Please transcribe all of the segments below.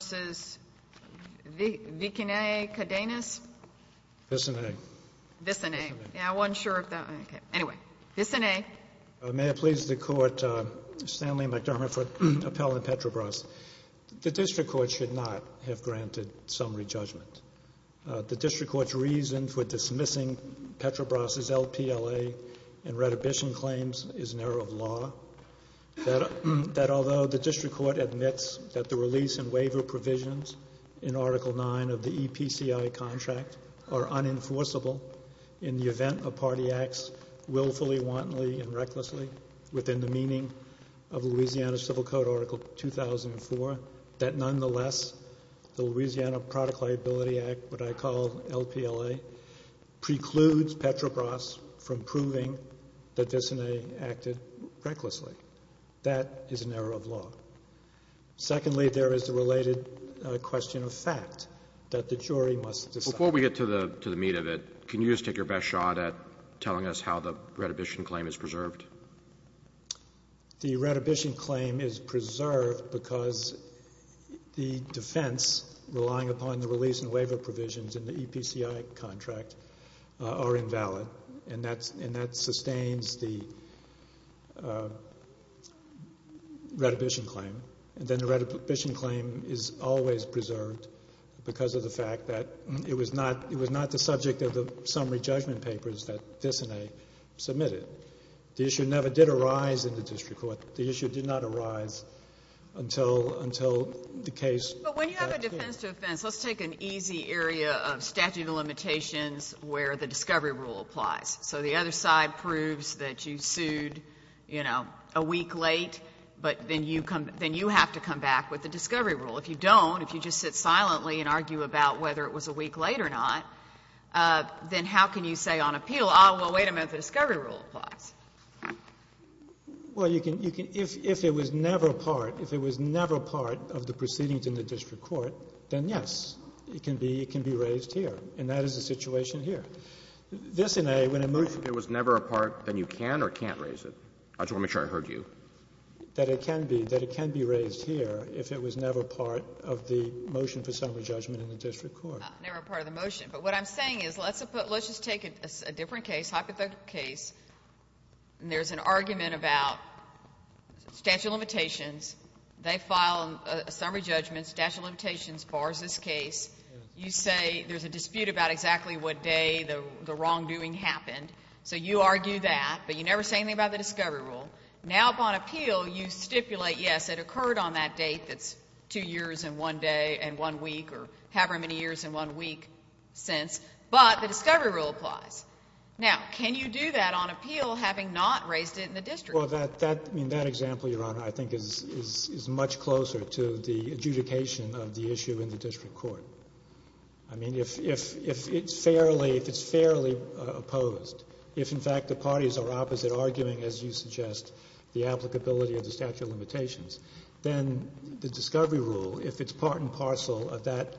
v. Patrobras America Incorporated v. Vicinay Cadenas May I please the Court, Stanley McDermott, for appellant Petrobras. The District Court should not have granted summary judgment. The District Court's reason for dismissing Petrobras' LPLA and retribution claims is an error of law, that although the District Court admits that the release and waiver provisions in Article IX of the EPCI contract are unenforceable in the event a party acts willfully, wantonly, and recklessly within the meaning of Louisiana Civil Code Article 2004, that nonetheless the Louisiana Product Liability Act, what I call LPLA, precludes Petrobras from proving that Vicinay acted recklessly. That is an error of law. Secondly, there is the related question of fact that the jury must decide. Before we get to the meat of it, can you just take your best shot at telling us how the retribution claim is preserved? The retribution claim is preserved because the defense relying upon the release and waiver provisions in the EPCI contract are invalid and that sustains the retribution claim. Then the retribution claim is always preserved because of the fact that it was not the subject of the summary judgment papers that Vicinay submitted. The issue never did arise in the District Court. The issue did not arise until the case was passed through. But when you have a defense to offense, let's take an easy area of statute of limitations where the discovery rule applies. So the other side proves that you sued, you know, a week late, but then you have to come back with the discovery rule. If you don't, if you just sit silently and argue about whether it was a week late or not, then how can you say on appeal, oh, well, wait a minute, the discovery rule applies? Well, you can, you can, if it was never a part, if it was never a part of the proceedings in the District Court, then yes, it can be, it can be raised here. And that is the situation here. This in a, when a motion. If it was never a part, then you can or can't raise it? I just want to make sure I heard you. That it can be, that it can be raised here if it was never a part of the motion for summary judgment in the District Court. Never a part of the motion. But what I'm saying is let's just take a different case, hypothetical case, and there's an argument about statute of limitations. They file a summary judgment, statute of limitations bars this case. You say there's a dispute about exactly what day the wrongdoing happened. So you argue that, but you never say anything about the discovery rule. Now, upon appeal, you stipulate, yes, it occurred on that date that's two years and one day and one week, or however many years and one week since, but the discovery rule applies. Now, can you do that on appeal having not raised it in the District Court? Well, that, that, I mean, that example, Your Honor, I think is, is much closer to the adjudication of the issue in the District Court. I mean, if, if, if it's fairly, if it's fairly opposed, if in fact the parties are opposite, arguing, as you suggest, the applicability of the statute of limitations, then the discovery rule, if it's part and parcel of that,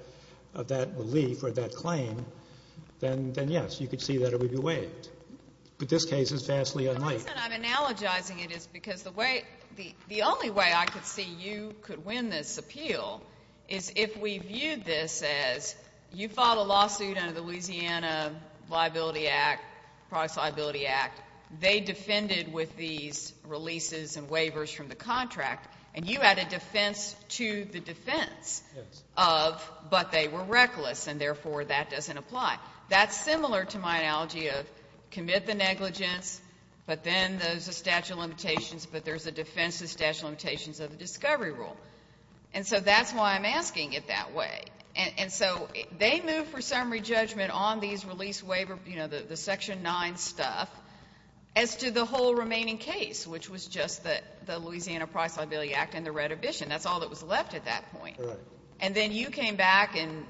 of that belief or that claim, then, then yes, you could see that it would be waived. But this case is vastly unlike. The reason I'm analogizing it is because the way, the only way I could see you could win this appeal is if we viewed this as you filed a lawsuit under the Louisiana Liability Act, they defended with these releases and waivers from the contract, and you had a defense to the defense of, but they were reckless, and therefore that doesn't apply. That's similar to my analogy of commit the negligence, but then there's a statute of limitations, but there's a defense to the statute of limitations of the discovery rule. And so that's why I'm asking it that way. And so they moved for summary judgment on these release waiver, you know, the Section 9 stuff, as to the whole remaining case, which was just the Louisiana Products Liability Act and the retribution. That's all that was left at that point. Right. And then you came back and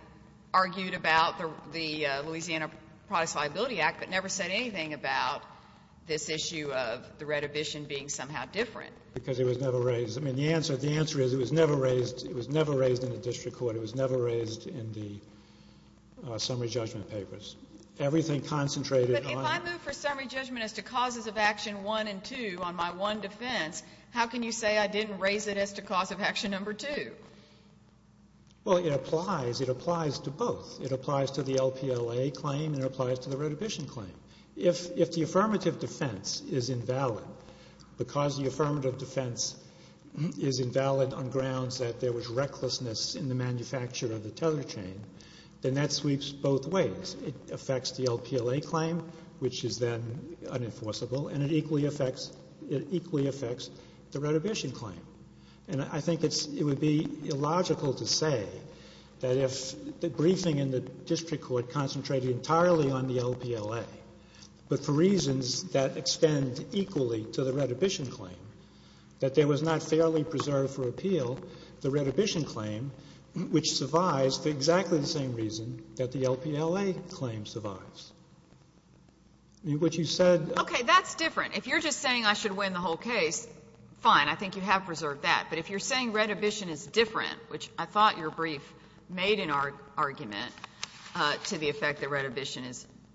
argued about the Louisiana Products Liability Act, but never said anything about this issue of the retribution being somehow different. Because it was never raised. I mean, the answer, the answer is it was never raised. It was never raised in the district court. It was never raised in the summary judgment papers. Everything concentrated on the... But if I move for summary judgment as to causes of action one and two on my one defense, how can you say I didn't raise it as to cause of action number two? Well, it applies. It applies to both. It applies to the LPLA claim, and it applies to the retribution claim. If the affirmative defense is invalid, because the affirmative defense is invalid on grounds that there was recklessness in the manufacture of the tether chain, then that sweeps both ways. It affects the LPLA claim, which is then unenforceable, and it equally affects the retribution claim. And I think it would be illogical to say that if the briefing in the district court concentrated entirely on the LPLA, but for reasons that extend equally to the retribution claim, that there was not fairly preserved for appeal the retribution claim, which survives for exactly the same reason that the LPLA claim survives. What you said... Okay. That's different. If you're just saying I should win the whole case, fine. I think you have preserved that. But if you're saying retribution is different, which I thought your brief made an argument to the effect that retribution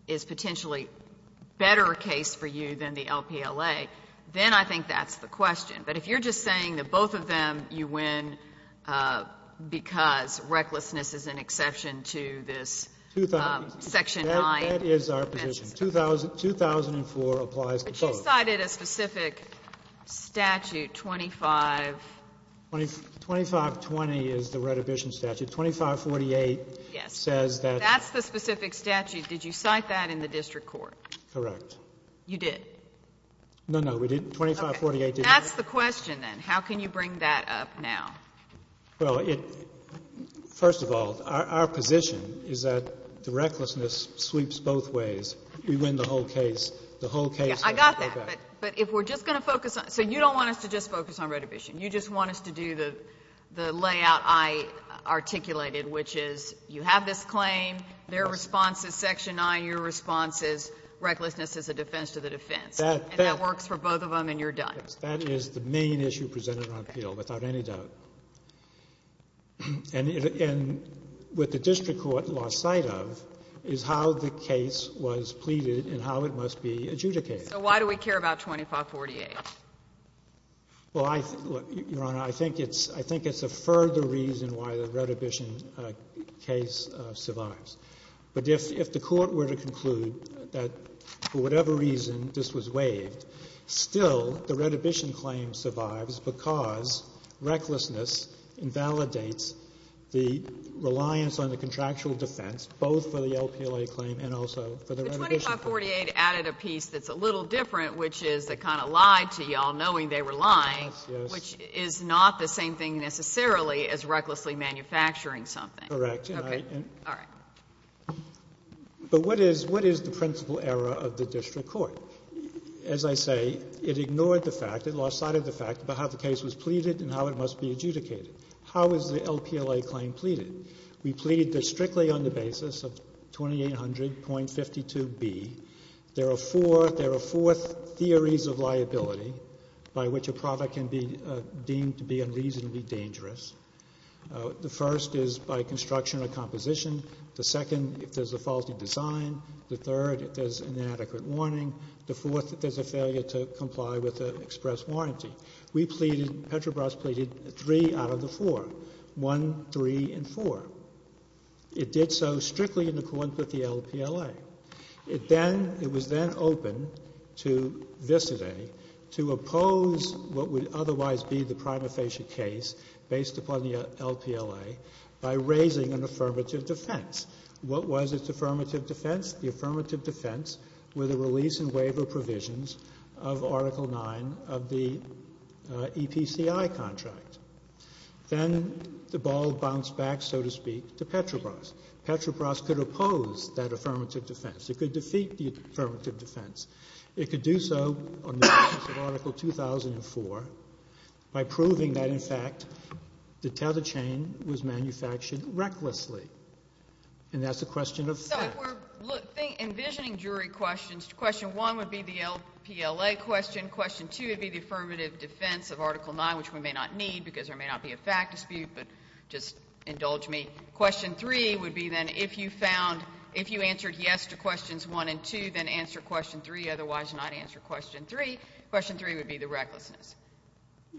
is potentially better a case for you than the LPLA, then I think that's the question. But if you're just saying that both of them you win because recklessness is an exception to this Section 9... That is our position. 2004 applies to both. But you cited a specific statute, 25... 2520 is the retribution statute. 2548 says that... Yes. That's the specific statute. Did you cite that in the district court? Correct. You did. No, no, we didn't. 2548 did. That's the question, then. How can you bring that up now? Well, first of all, our position is that the recklessness sweeps both ways. We win the whole case. The whole case... I got that. But if we're just going to focus on it. So you don't want us to just focus on retribution. You just want us to do the layout I articulated, which is you have this claim, their response is recklessness is a defense to the defense. And that works for both of them and you're done. That is the main issue presented on appeal, without any doubt. And with the district court lost sight of is how the case was pleaded and how it must be adjudicated. So why do we care about 2548? Well, Your Honor, I think it's a further reason why the retribution case survives. But if the court were to conclude that for whatever reason this was waived, still the retribution claim survives because recklessness invalidates the reliance on the contractual defense, both for the LPLA claim and also for the retribution claim. But 2548 added a piece that's a little different, which is it kind of lied to you all knowing they were lying, which is not the same thing necessarily as recklessly manufacturing something. Correct. Okay. All right. But what is the principle error of the district court? As I say, it ignored the fact, it lost sight of the fact about how the case was pleaded and how it must be adjudicated. How is the LPLA claim pleaded? We plead that strictly on the basis of 2800.52B, there are four theories of liability by which a product can be deemed to be unreasonably dangerous. The first is by construction or composition. The second, if there's a faulty design. The third, if there's inadequate warning. The fourth, if there's a failure to comply with the express warranty. We pleaded, Petrobras pleaded three out of the four, one, three, and four. It did so strictly in accordance with the LPLA. It then, it was then open to Vis-a-De to oppose what would otherwise be the prima basis upon the LPLA by raising an affirmative defense. What was its affirmative defense? The affirmative defense were the release and waiver provisions of Article IX of the EPCI contract. Then the ball bounced back, so to speak, to Petrobras. Petrobras could oppose that affirmative defense. It could defeat the affirmative defense. It could do so on the basis of Article 2004 by proving that, in fact, the tether chain was manufactured recklessly. And that's a question of fact. So if we're envisioning jury questions, question one would be the LPLA question. Question two would be the affirmative defense of Article IX, which we may not need because there may not be a fact dispute, but just indulge me. Question three would be then if you found, if you answered yes to questions one and two, then answer question three. Otherwise, not answer question three. Question three would be the recklessness.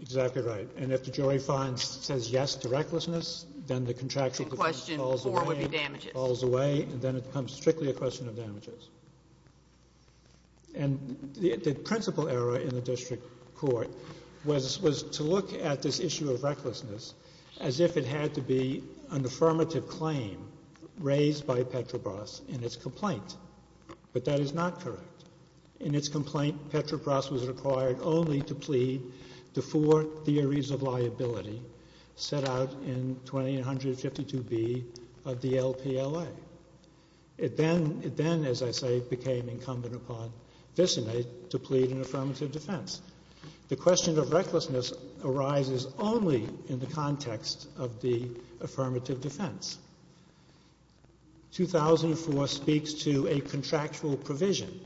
Exactly right. And if the jury finds, says yes to recklessness, then the contractual defense falls away. And question four would be damages. Falls away. And then it becomes strictly a question of damages. And the principal error in the district court was to look at this issue of recklessness as if it had to be an affirmative claim raised by Petrobras in its complaint. But that is not correct. In its complaint, Petrobras was required only to plead the four theories of liability set out in 2852B of the LPLA. It then, as I say, became incumbent upon Vissenay to plead an affirmative defense. The question of recklessness arises only in the context of the affirmative defense. 2004 speaks to a contractual provision,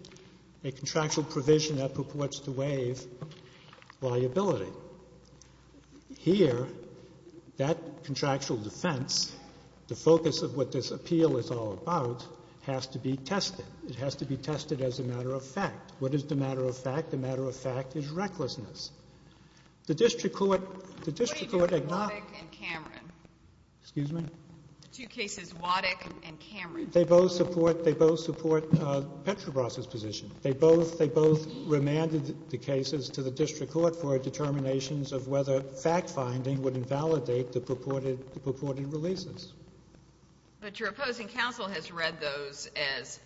a contractual provision that purports to waive liability. Here, that contractual defense, the focus of what this appeal is all about, has to be tested. It has to be tested as a matter of fact. What is the matter of fact? The matter of fact is recklessness. The district court — What do you do with Waddick and Cameron? Excuse me? The two cases, Waddick and Cameron. They both support Petrobras's position. They both remanded the cases to the district court for determinations of whether fact-finding would invalidate the purported releases. But your opposing counsel has read those as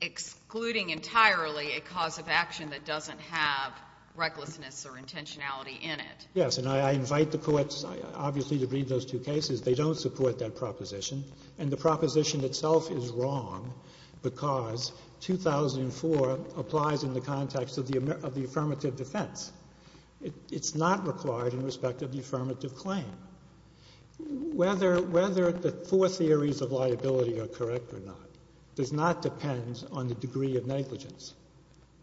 excluding entirely a cause of action that doesn't have recklessness or intentionality in it. Yes, and I invite the courts, obviously, to read those two cases. They don't support that proposition. And the proposition itself is wrong because 2004 applies in the context of the affirmative defense. It's not required in respect of the affirmative claim. Whether the four theories of liability are correct or not does not depend on the degree of negligence.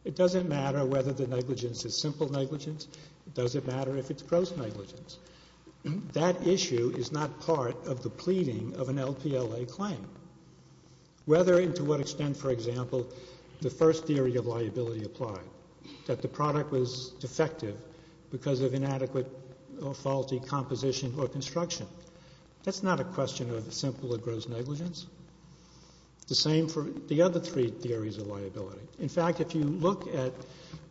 It doesn't matter whether the negligence is simple negligence. It doesn't matter if it's gross negligence. That issue is not part of the pleading of an LPLA claim. Whether and to what extent, for example, the first theory of liability applied, that the That's not a question of simple or gross negligence. The same for the other three theories of liability. In fact, if you look at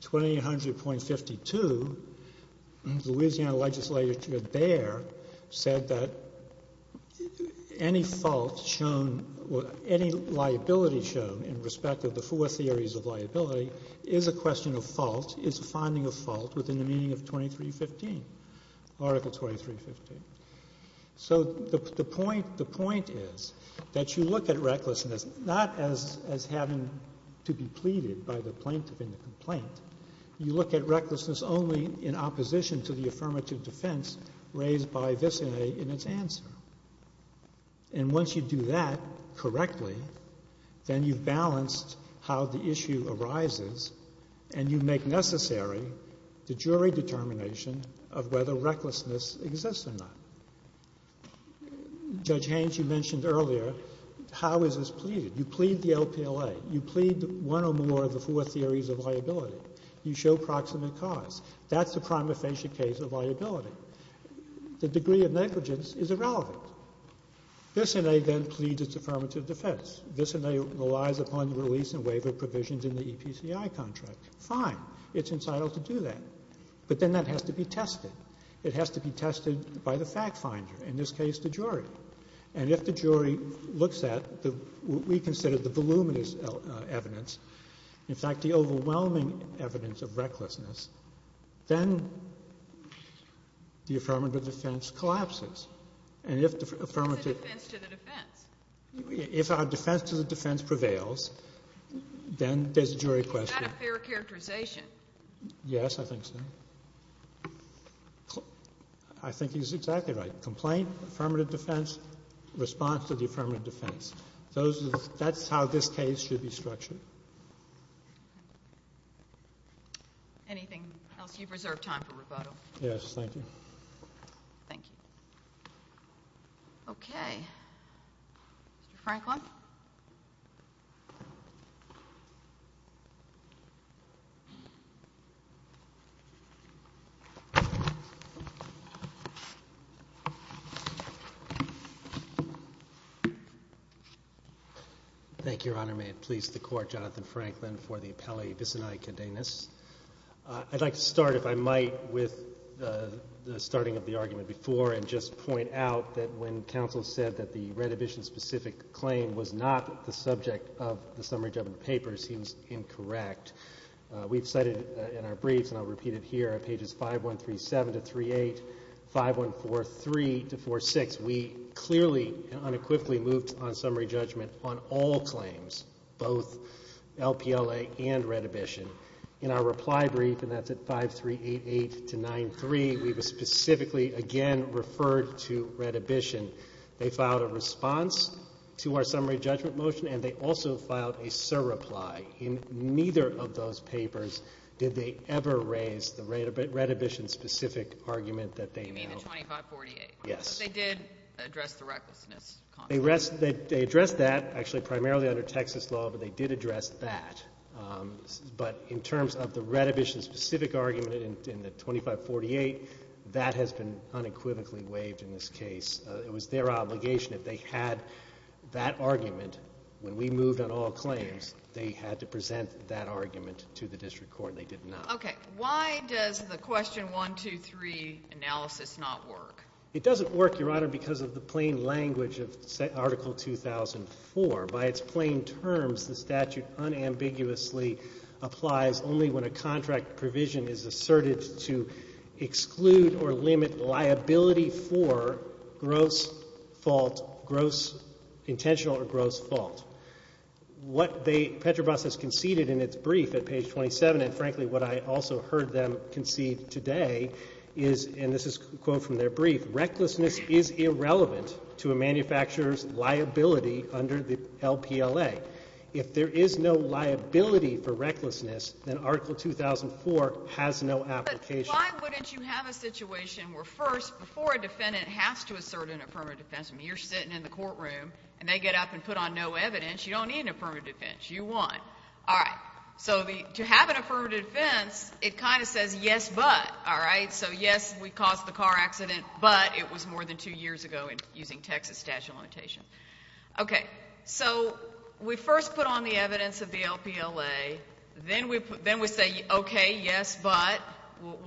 2800.52, Louisiana legislature there said that any fault shown or any liability shown in respect of the four theories of liability is a question of fault, is a finding of fault within the meaning of 2315, Article 2315. So the point is that you look at recklessness not as having to be pleaded by the plaintiff in the complaint. You look at recklessness only in opposition to the affirmative defense raised by this in its answer. And once you do that correctly, then you've balanced how the issue arises and you make necessary the jury determination of whether recklessness exists or not. Judge Haynes, you mentioned earlier, how is this pleaded? You plead the LPLA. You plead one or more of the four theories of liability. You show proximate cause. That's the prima facie case of liability. The degree of negligence is irrelevant. This in a then pleads its affirmative defense. This in a relies upon the release and waiver provisions in the EPCI contract. Fine. It's incital to do that. But then that has to be tested. It has to be tested by the fact finder, in this case the jury. And if the jury looks at what we consider the voluminous evidence, in fact the overwhelming evidence of recklessness, then the affirmative defense collapses. And if the affirmative ---- It's a defense to the defense. If our defense to the defense prevails, then there's a jury question. Is that a fair characterization? Yes, I think so. I think he's exactly right. Complaint, affirmative defense, response to the affirmative defense. That's how this case should be structured. Anything else? You've reserved time for rebuttal. Yes, thank you. Thank you. Okay. Mr. Franklin? Thank you, Your Honor. May it please the Court, Jonathan Franklin for the appellee, Visini Cadenas. I'd like to start, if I might, with the starting of the argument before and just point out that when counsel said that the Redhibition-specific claim was not the subject of the summary judgment papers, he was incorrect. We've cited in our briefs, and I'll repeat it here, at pages 5137 to 38, 5143 to 46, we clearly and unequivocally moved on summary judgment on all claims, both LPLA and Redhibition. In our reply brief, and that's at 5388 to 93, we specifically, again, referred to Redhibition. They filed a response to our summary judgment motion, and they also filed a surreply. In neither of those papers did they ever raise the Redhibition-specific argument that they know. You mean the 2548? Yes. But they did address the recklessness. They addressed that, actually, primarily under Texas law, but they did address that. But in terms of the Redhibition-specific argument in the 2548, that has been unequivocally waived in this case. It was their obligation that they had that argument. When we moved on all claims, they had to present that argument to the district court, and they did not. Okay. Why does the question 1, 2, 3 analysis not work? It doesn't work, Your Honor, because of the plain language of Article 2004. By its plain terms, the statute unambiguously applies only when a contract provision is asserted to exclude or limit liability for gross fault, gross intentional or gross fault. Petrobras has conceded in its brief at page 27, and frankly, what I also heard them concede today is, and this is a quote from their brief, recklessness is irrelevant to a manufacturer's liability under the LPLA. If there is no liability for recklessness, then Article 2004 has no application. But why wouldn't you have a situation where first, before a defendant has to assert an affirmative defense, I mean, you're sitting in the courtroom, and they get up and put on no evidence. You don't need an affirmative defense. You won. All right. So to have an affirmative defense, it kind of says yes, but. All right. So yes, we caused the car accident, but it was more than two years ago using Texas statute of limitations. Okay. So we first put on the evidence of the LPLA. Then we say, okay, yes, but,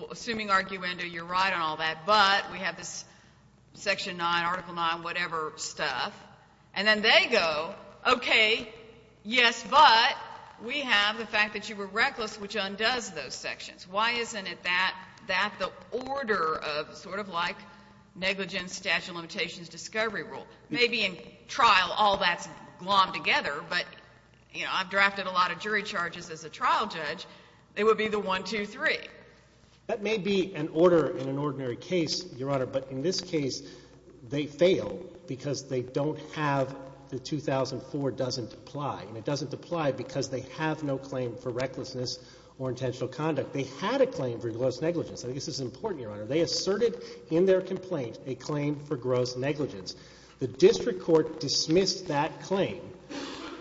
assuming arguendo, you're right on all that, but we have this Section 9, Article 9, whatever stuff, and then they go, okay, yes, but we have the fact that you were reckless, which undoes those sections. Why isn't it that the order of sort of like negligence, statute of limitations, discovery rule, maybe in trial all that's glommed together, but, you know, I've drafted a lot of jury charges as a trial judge. It would be the one, two, three. That may be an order in an ordinary case, Your Honor, but in this case, they fail because they don't have the 2004 doesn't apply. And it doesn't apply because they have no claim for recklessness or intentional conduct. They had a claim for gross negligence. I think this is important, Your Honor. They asserted in their complaint a claim for gross negligence. The district court dismissed that claim,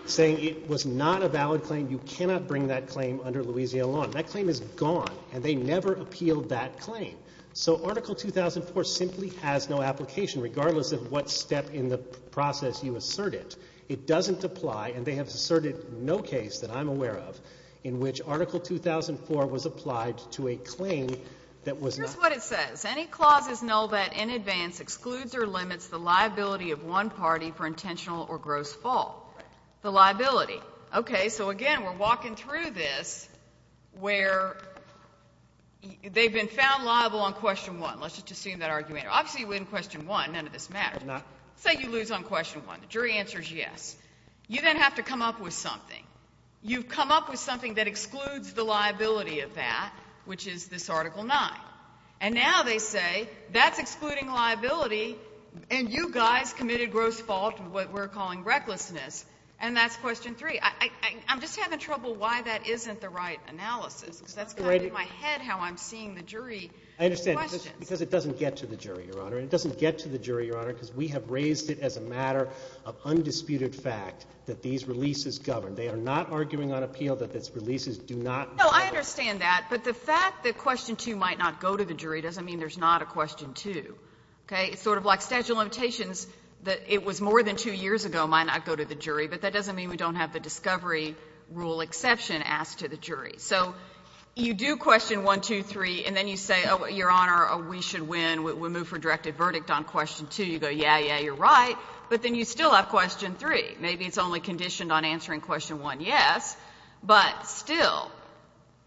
saying it was not a valid claim. You cannot bring that claim under Louisiana law. And that claim is gone, and they never appealed that claim. So Article 2004 simply has no application, regardless of what step in the process you assert it. It doesn't apply, and they have asserted no case that I'm aware of in which Article 2004 was applied to a claim that was not. Here's what it says. Any clauses know that in advance excludes or limits the liability of one party for intentional or gross fault. Right. The liability. Okay. So, again, we're walking through this where they've been found liable on question one. Let's just assume that argument. Obviously, in question one, none of this matters. No. Say you lose on question one. The jury answers yes. You then have to come up with something. You've come up with something that excludes the liability of that, which is this Article 9. And now they say that's excluding liability, and you guys committed gross fault, what we're calling recklessness, and that's question three. I'm just having trouble why that isn't the right analysis, because that's kind of in my head how I'm seeing the jury questions. I understand, because it doesn't get to the jury, Your Honor. It doesn't get to the jury, Your Honor, because we have raised it as a matter of undisputed fact that these releases govern. They are not arguing on appeal that these releases do not govern. No, I understand that. But the fact that question two might not go to the jury doesn't mean there's not a question two. Okay? It's sort of like statute of limitations that it was more than two years ago might not go to the jury, but that doesn't mean we don't have the discovery rule exception asked to the jury. So you do question one, two, three, and then you say, Your Honor, we should win. We move for directed verdict on question two. You go, yeah, yeah, you're right. But then you still have question three. Maybe it's only conditioned on answering question one, yes. But still,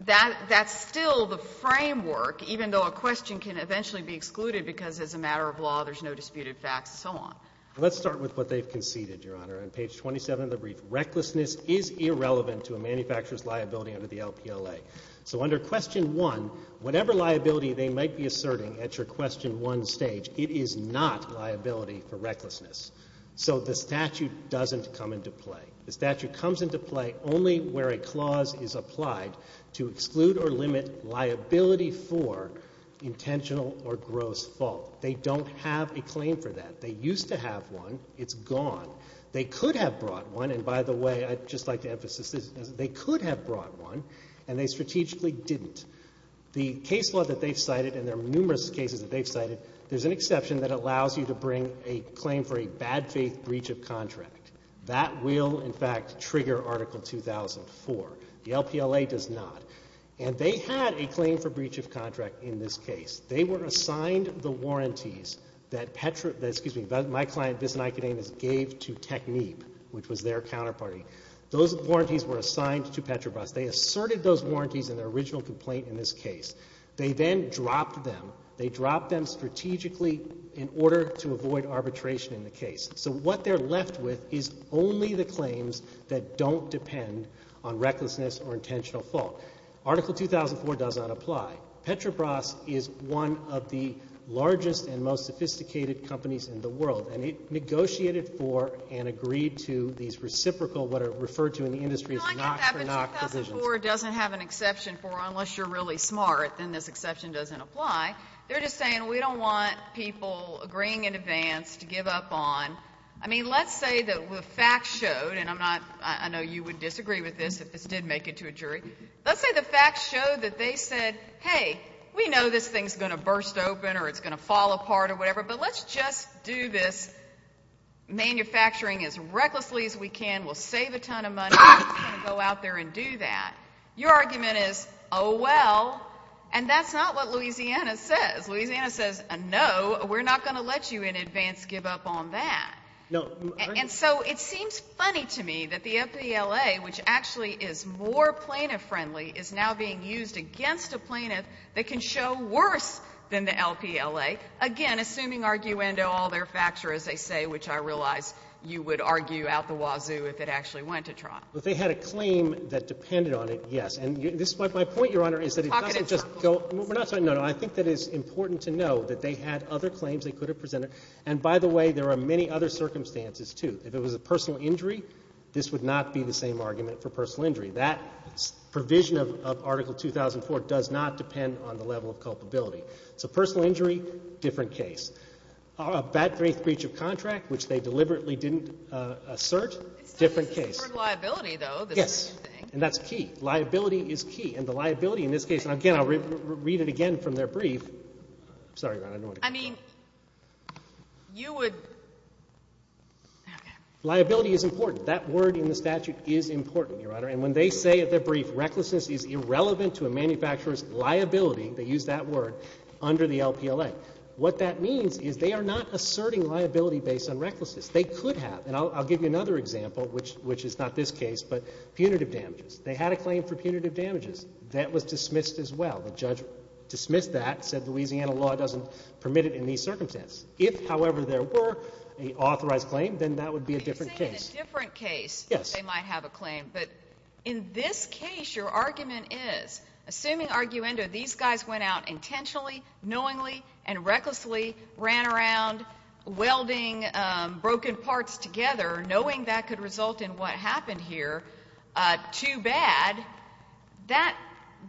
that's still the framework, even though a question can eventually be excluded because it's a matter of law, there's no disputed facts, and so on. Let's start with what they've conceded, Your Honor. On page 27 of the brief, recklessness is irrelevant to a manufacturer's liability under the LPLA. So under question one, whatever liability they might be asserting at your question one stage, it is not liability for recklessness. So the statute doesn't come into play. The statute comes into play only where a clause is applied to exclude or limit liability for intentional or gross fault. They don't have a claim for that. They used to have one. It's gone. They could have brought one, and by the way, I'd just like to emphasize this. They could have brought one, and they strategically didn't. The case law that they've cited, and there are numerous cases that they've cited, there's an exception that allows you to bring a claim for a bad faith breach of contract. That will, in fact, trigger Article 2004. The LPLA does not. And they had a claim for breach of contract in this case. They were assigned the warranties that Petra, excuse me, that my client, Biss and Ikenames, gave to Technib, which was their counterparty. Those warranties were assigned to Petrabras. They asserted those warranties in their original complaint in this case. They then dropped them. They dropped them strategically in order to avoid arbitration in the case. So what they're left with is only the claims that don't depend on recklessness or intentional fault. Article 2004 does not apply. Petrabras is one of the largest and most sophisticated companies in the world, and it negotiated for and agreed to these reciprocal, what are referred to in the industry as knock-for-knock decisions. Well, I get that, but 2004 doesn't have an exception for unless you're really smart, then this exception doesn't apply. They're just saying we don't want people agreeing in advance to give up on, I mean, let's say that the facts showed, and I'm not, I know you would disagree with this if this did make it to a jury. Let's say the facts showed that they said, hey, we know this thing's going to burst open or it's going to fall apart or whatever, but let's just do this manufacturing as recklessly as we can. We'll save a ton of money. We're just going to go out there and do that. Your argument is, oh, well, and that's not what Louisiana says. Louisiana says, no, we're not going to let you in advance give up on that. And so it seems funny to me that the FBLA, which actually is more plaintiff friendly, is now being used against a plaintiff that can show worse than the LPLA, again, assuming, arguendo, all their facts are as they say, which I realize you would argue out the wazoo if it actually went to trial. Well, if they had a claim that depended on it, yes. And this is my point, Your Honor, is that it doesn't just go up. We're not talking about this. No, no. I think that it's important to know that they had other claims they could have presented. And by the way, there are many other circumstances, too. If it was a personal injury, this would not be the same argument for personal injury. That provision of Article 2004 does not depend on the level of culpability. So personal injury, different case. A bad faith breach of contract, which they deliberately didn't assert, different case. It's the word liability, though. Yes. And that's key. Liability is key. And the liability in this case, and again, I'll read it again from their brief. Sorry, Your Honor, I don't want to. I mean, you would – okay. Liability is important. That word in the statute is important, Your Honor. And when they say at their brief, recklessness is irrelevant to a manufacturer's liability, they use that word, under the LPLA. What that means is they are not asserting liability based on recklessness. They could have. And I'll give you another example, which is not this case, but punitive damages. They had a claim for punitive damages. That was dismissed as well. The judge dismissed that, said Louisiana law doesn't permit it in these circumstances. If, however, there were an authorized claim, then that would be a different case. Yes. They might have a claim. But in this case, your argument is, assuming arguendo, these guys went out intentionally, knowingly, and recklessly, ran around welding broken parts together, knowing that could result in what happened here, too bad. That,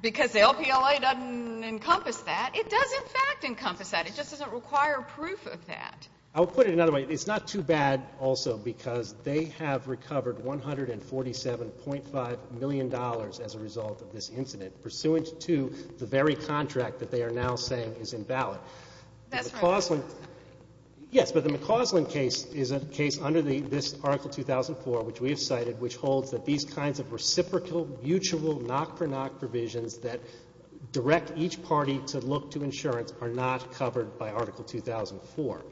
because the LPLA doesn't encompass that. It does, in fact, encompass that. It just doesn't require proof of that. I'll put it another way. It's not too bad, also, because they have recovered $147.5 million as a result of this incident, pursuant to the very contract that they are now saying is invalid. That's right. Yes, but the McCausland case is a case under this Article 2004, which we have cited, which holds that these kinds of reciprocal, mutual, knock-for-knock provisions that direct each party to look to insurance are not covered by Article 2004.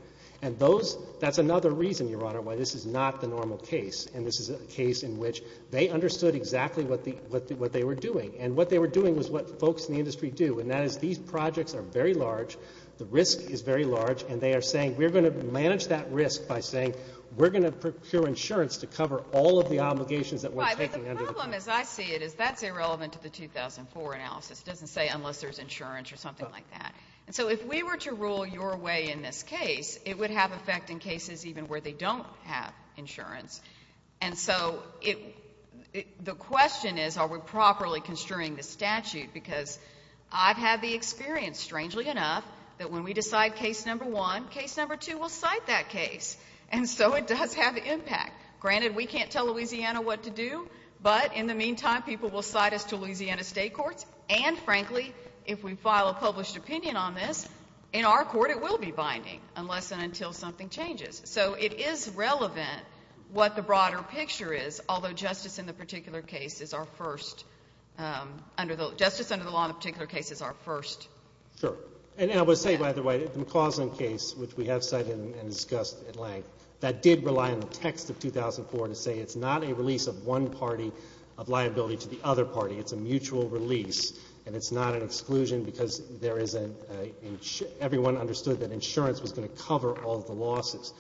And that's another reason, Your Honor, why this is not the normal case, and this is a case in which they understood exactly what they were doing, and what they were doing was what folks in the industry do, and that is these projects are very large, the risk is very large, and they are saying we're going to manage that risk by saying we're going to procure insurance to cover all of the obligations that we're taking under the pen. Right, but the problem, as I see it, is that's irrelevant to the 2004 analysis. It doesn't say unless there's insurance or something like that. And so if we were to rule your way in this case, it would have effect in cases even where they don't have insurance. And so the question is are we properly construing the statute because I've had the experience, strangely enough, that when we decide case number one, case number two will cite that case. And so it does have impact. Granted, we can't tell Louisiana what to do, but in the meantime people will cite us to Louisiana state courts, and, frankly, if we file a published opinion on this, in our court it will be binding unless and until something changes. So it is relevant what the broader picture is, although justice in the particular case is our first, justice under the law in the particular case is our first. Sure. And I would say, by the way, the McCausland case, which we have cited and discussed at length, that did rely on the text of 2004 to say it's not a release of one party of liability to the other party. It's a mutual release. And it's not an exclusion because there is a — everyone understood that insurance was going to cover all of the losses.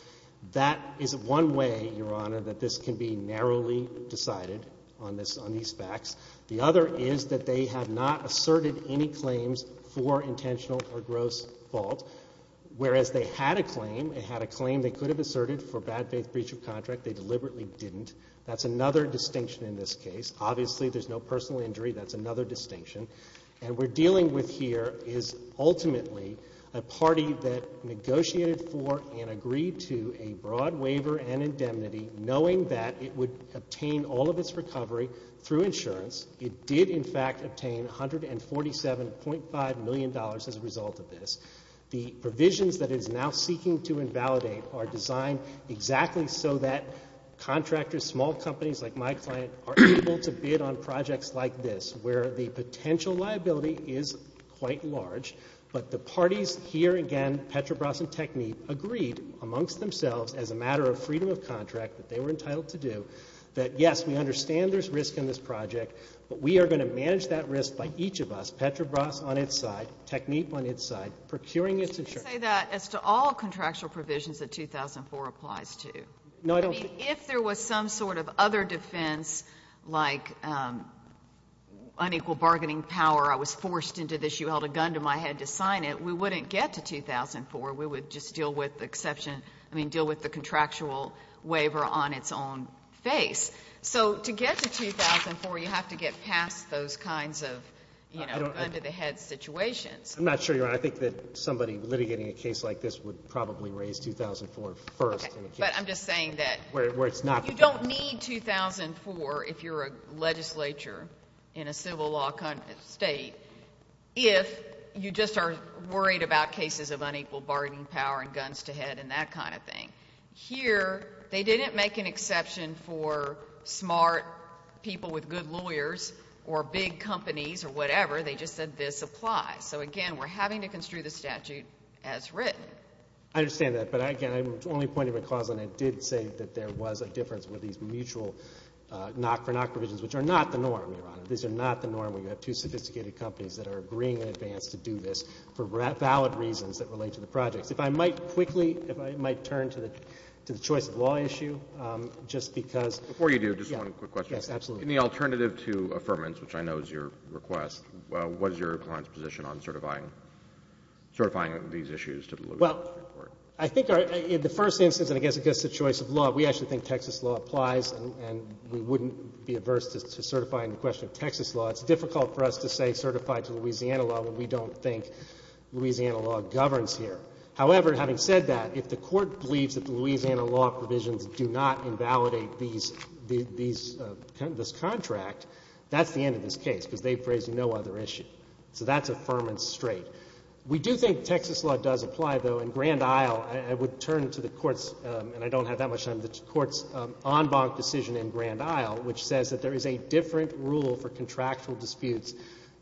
That is one way, Your Honor, that this can be narrowly decided on these facts. The other is that they have not asserted any claims for intentional or gross fault, whereas they had a claim. They had a claim they could have asserted for bad faith breach of contract. They deliberately didn't. That's another distinction in this case. Obviously, there's no personal injury. That's another distinction. And what we're dealing with here is ultimately a party that negotiated for and agreed to a broad waiver and indemnity, knowing that it would obtain all of its recovery through insurance. It did, in fact, obtain $147.5 million as a result of this. The provisions that it is now seeking to invalidate are designed exactly so that contractors, small companies like my client, are able to bid on projects like this, where the potential liability is quite large. But the parties here, again, Petrobras and Technip, agreed amongst themselves as a matter of freedom of contract that they were entitled to do that, yes, we understand there's risk in this project, but we are going to manage that risk by each of us, Petrobras on its side, Technip on its side, procuring its insurance. You say that as to all contractual provisions that 2004 applies to. No, I don't. I mean, if there was some sort of other defense like unequal bargaining power, I was forced into this, you held a gun to my head to sign it, we wouldn't get to 2004. We would just deal with the contractual waiver on its own face. So to get to 2004, you have to get past those kinds of, you know, gun to the head situations. I'm not sure, Your Honor. I think that somebody litigating a case like this would probably raise 2004 first. But I'm just saying that you don't need 2004 if you're a legislature in a civil law state if you just are worried about cases of unequal bargaining power and guns to head and that kind of thing. Here, they didn't make an exception for smart people with good lawyers or big companies or whatever, they just said this applies. So, again, we're having to construe the statute as written. I understand that, but, again, I'm only pointing to a cause and I did say that there was a difference with these mutual knock-for-knock provisions, which are not the norm, Your Honor. These are not the norm where you have two sophisticated companies that are agreeing in advance to do this for valid reasons that relate to the projects. If I might quickly, if I might turn to the choice of law issue just because. Before you do, just one quick question. Yes, absolutely. In the alternative to affirmance, which I know is your request, what is your client's position on certifying these issues to the Louisiana Supreme Court? Well, I think in the first instance, and I guess it gets to the choice of law, we actually think Texas law applies and we wouldn't be averse to certifying the question of Texas law. It's difficult for us to say certify to Louisiana law when we don't think Louisiana law governs here. However, having said that, if the Court believes that the Louisiana law provisions do not invalidate these, this contract, that's the end of this case because they've got another issue. So that's affirmance straight. We do think Texas law does apply, though. In Grand Isle, I would turn to the Court's, and I don't have that much time, the Court's en banc decision in Grand Isle, which says that there is a different rule for contractual disputes,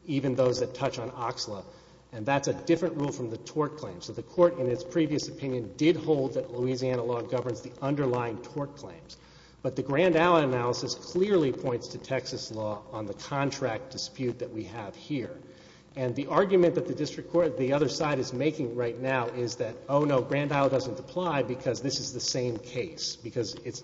even those that touch on OXLA. And that's a different rule from the tort claim. So the Court, in its previous opinion, did hold that Louisiana law governs the underlying tort claims. But the Grand Isle analysis clearly points to Texas law on the contract dispute that we have here. And the argument that the other side is making right now is that, oh, no, Grand Isle doesn't apply because this is the same case, because it's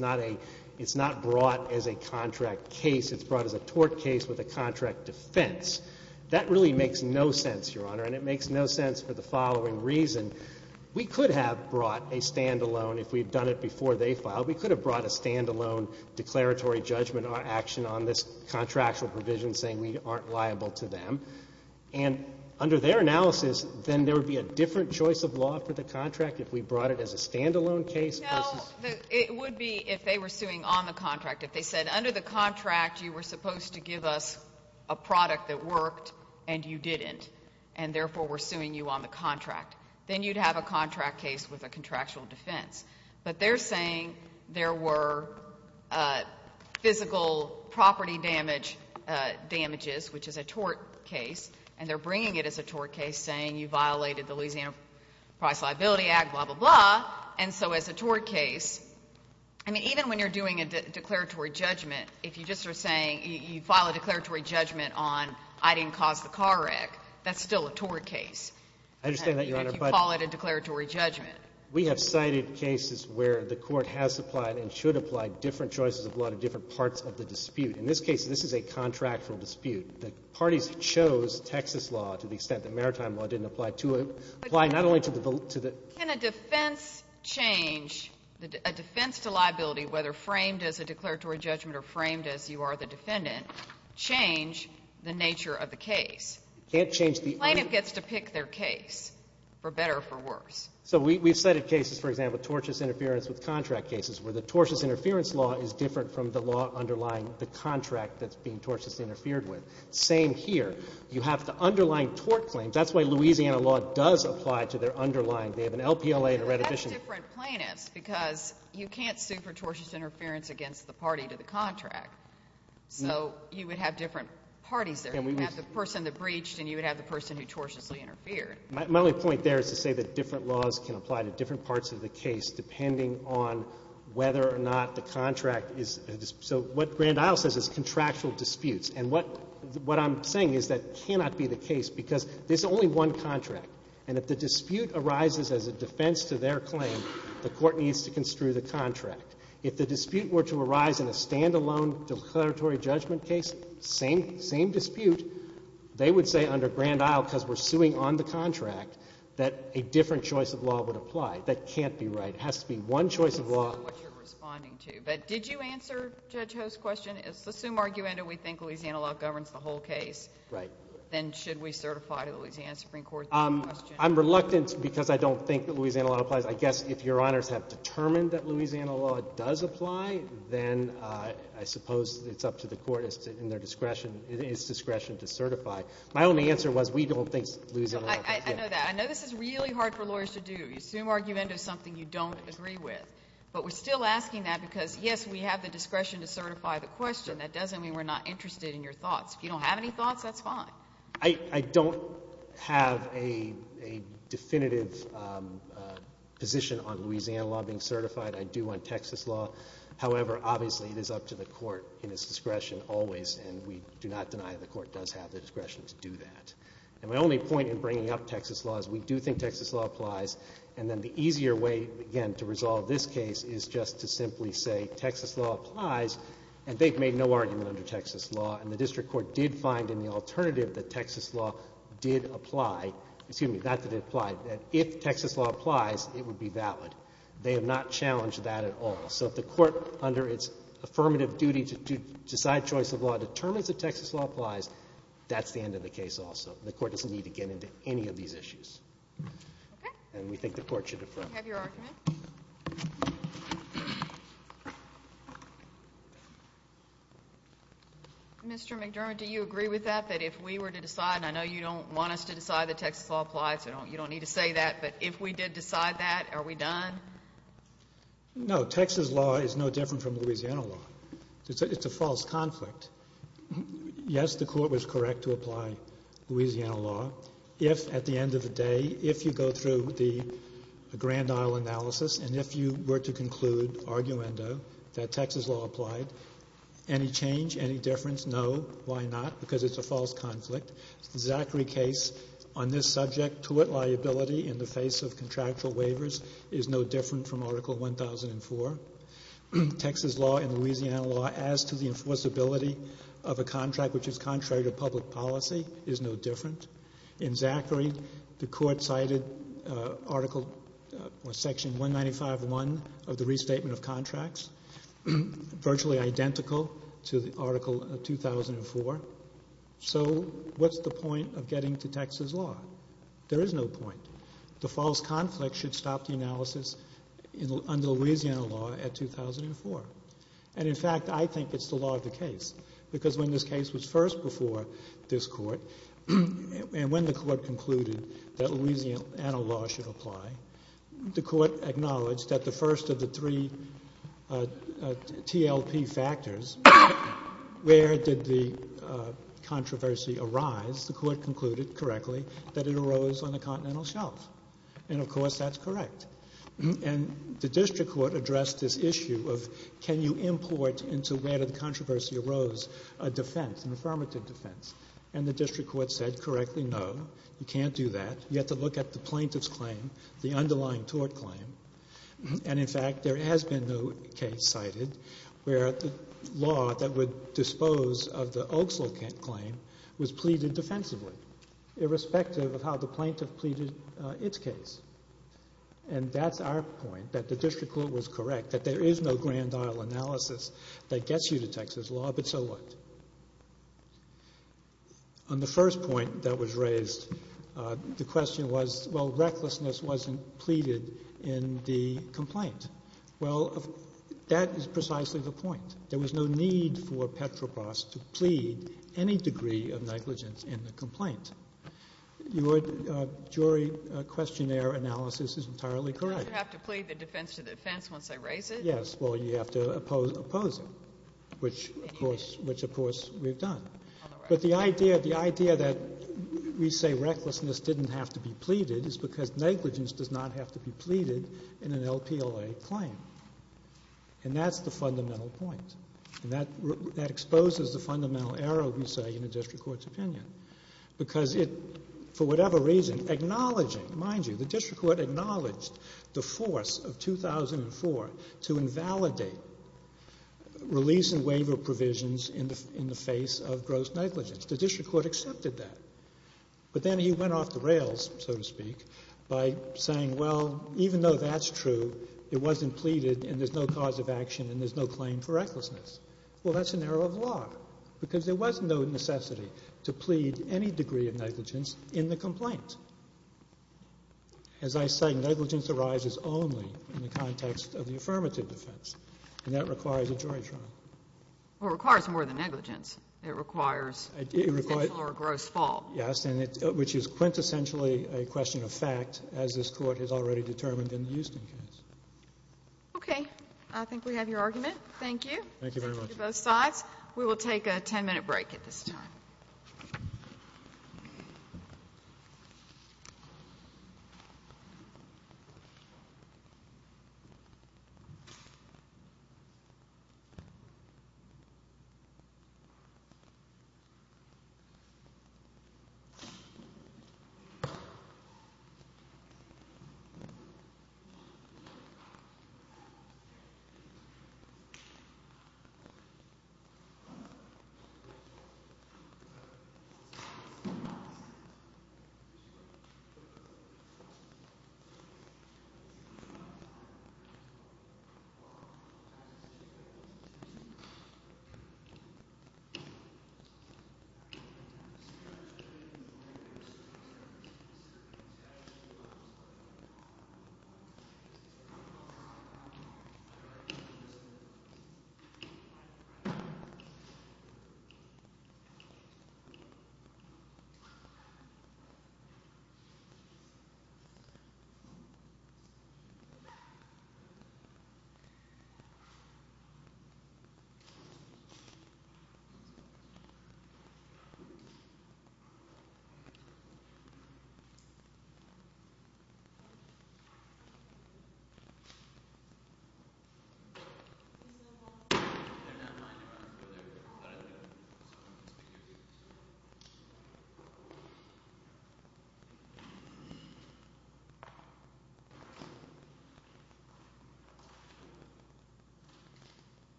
not brought as a contract case. It's brought as a tort case with a contract defense. That really makes no sense, Your Honor, and it makes no sense for the following reason. We could have brought a standalone, if we'd done it before they filed, we could have brought a standalone declaratory judgment or action on this contractual provision saying we aren't liable to them. And under their analysis, then there would be a different choice of law for the contract if we brought it as a standalone case versus ---- No. It would be if they were suing on the contract. If they said under the contract you were supposed to give us a product that worked and you didn't, and therefore we're suing you on the contract, then you'd have a contract case with a contractual defense. But they're saying there were physical property damage damages, which is a tort case, and they're bringing it as a tort case saying you violated the Louisiana Price Liability Act, blah, blah, blah. And so as a tort case, I mean, even when you're doing a declaratory judgment, if you just are saying you file a declaratory judgment on I didn't cause the car wreck, that's still a tort case. I understand that, Your Honor, but ---- If you call it a declaratory judgment. We have cited cases where the Court has applied and should apply different choices of law to different parts of the dispute. In this case, this is a contractual dispute. The parties chose Texas law to the extent that maritime law didn't apply to it, apply not only to the ---- Can a defense change, a defense to liability, whether framed as a declaratory judgment or framed as you are the defendant, change the nature of the case? You can't change the ---- The plaintiff gets to pick their case, for better or for worse. So we've cited cases, for example, tortious interference with contract cases, where the tortious interference law is different from the law underlying the contract that's being tortiously interfered with. Same here. You have the underlying tort claims. That's why Louisiana law does apply to their underlying. They have an LPLA and a reddition ---- But that's different plaintiffs because you can't sue for tortious interference against the party to the contract. So you would have different parties there. You would have the person that breached and you would have the person who tortiously interfered. My only point there is to say that different laws can apply to different parts of the case depending on whether or not the contract is ---- So what Grand Isle says is contractual disputes. And what I'm saying is that cannot be the case because there's only one contract. And if the dispute arises as a defense to their claim, the Court needs to construe the contract. If the dispute were to arise in a standalone declaratory judgment case, same dispute, they would say under Grand Isle, because we're suing on the contract, that a different choice of law would apply. That can't be right. It has to be one choice of law ---- I understand what you're responding to. But did you answer Judge Ho's question? It's the summa argumenta we think Louisiana law governs the whole case. Right. Then should we certify to the Louisiana Supreme Court the question? I'm reluctant because I don't think that Louisiana law applies. I guess if Your Honors have determined that Louisiana law does apply, then I suppose it's up to the Court in its discretion to certify. My only answer was we don't think Louisiana law does. I know that. I know this is really hard for lawyers to do. You assume argumenta is something you don't agree with. But we're still asking that because, yes, we have the discretion to certify the question. That doesn't mean we're not interested in your thoughts. If you don't have any thoughts, that's fine. I don't have a definitive position on Louisiana law being certified. I do on Texas law. However, obviously, it is up to the Court in its discretion always. And we do not deny the Court does have the discretion to do that. And my only point in bringing up Texas law is we do think Texas law applies. And then the easier way, again, to resolve this case is just to simply say Texas law applies. And they've made no argument under Texas law. And the district court did find in the alternative that Texas law did apply. Excuse me, not that it applied. That if Texas law applies, it would be valid. They have not challenged that at all. So if the Court, under its affirmative duty to decide choice of law, determines that Texas law applies, that's the end of the case also. The Court doesn't need to get into any of these issues. And we think the Court should affirm. Do you have your argument? Mr. McDermott, do you agree with that, that if we were to decide, and I know you don't want us to decide that Texas law applies, you don't need to say that, but if we did decide that, are we done? No, Texas law is no different from Louisiana law. It's a false conflict. Yes, the Court was correct to apply Louisiana law. If, at the end of the day, if you go through the Grand Isle analysis and if you were to conclude, arguendo, that Texas law applied, any change, any difference? No. Why not? Because it's a false conflict. The Zachary case on this subject, tort liability in the face of contractual waivers, is no different from Article 1004. Texas law and Louisiana law as to the enforceability of a contract, which is contrary to public policy, is no different. In Zachary, the Court cited Article or Section 195.1 of the Restatement of Contracts, virtually identical to the Article of 2004. So what's the point of getting to Texas law? There is no point. The false conflict should stop the analysis under Louisiana law at 2004. And, in fact, I think it's the law of the case, because when this case was first before this Court and when the Court concluded that Louisiana law should apply, the Court acknowledged that the first of the three TLP factors, where did the controversy arise? The Court concluded, correctly, that it arose on the continental shelf. And, of course, that's correct. And the district court addressed this issue of can you import into where the controversy arose a defense, an affirmative defense? And the district court said, correctly, no, you can't do that. You have to look at the plaintiff's claim, the underlying tort claim. And, in fact, there has been no case cited where the law that would dispose of the Oaksland claim was pleaded defensively, irrespective of how the plaintiff pleaded its case. And that's our point, that the district court was correct, that there is no grand aisle analysis that gets you to Texas law, but so what? On the first point that was raised, the question was, well, recklessness wasn't pleaded in the complaint. Well, that is precisely the point. There was no need for Petropas to plead any degree of negligence in the complaint. Your jury questionnaire analysis is entirely correct. You have to plead the defense to the defense once I raise it? Yes. Well, you have to oppose it, which, of course, we've done. But the idea that we say recklessness didn't have to be pleaded is because negligence does not have to be pleaded in an LPLA claim. And that's the fundamental point. And that exposes the fundamental error, we say, in a district court's opinion, because it, for whatever reason, acknowledging, mind you, the district court acknowledged the force of 2004 to invalidate release and waiver provisions in the face of gross negligence. The district court accepted that. But then he went off the rails, so to speak, by saying, well, even though that's true, it wasn't pleaded and there's no cause of action and there's no claim for recklessness. Well, that's an error of law because there was no necessity to plead any degree of negligence in the complaint. As I say, negligence arises only in the context of the affirmative defense. And that requires a jury trial. Well, it requires more than negligence. It requires potential or a gross fault. Yes, which is quintessentially a question of fact, as this Court has already determined in the Houston case. Okay. I think we have your argument. Thank you. Thank you very much. Thank you to both sides. We will take a 10-minute break at this time.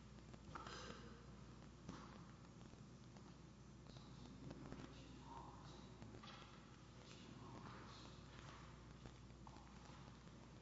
Thank you. Thank you. Thank you. Thank you. Thank you.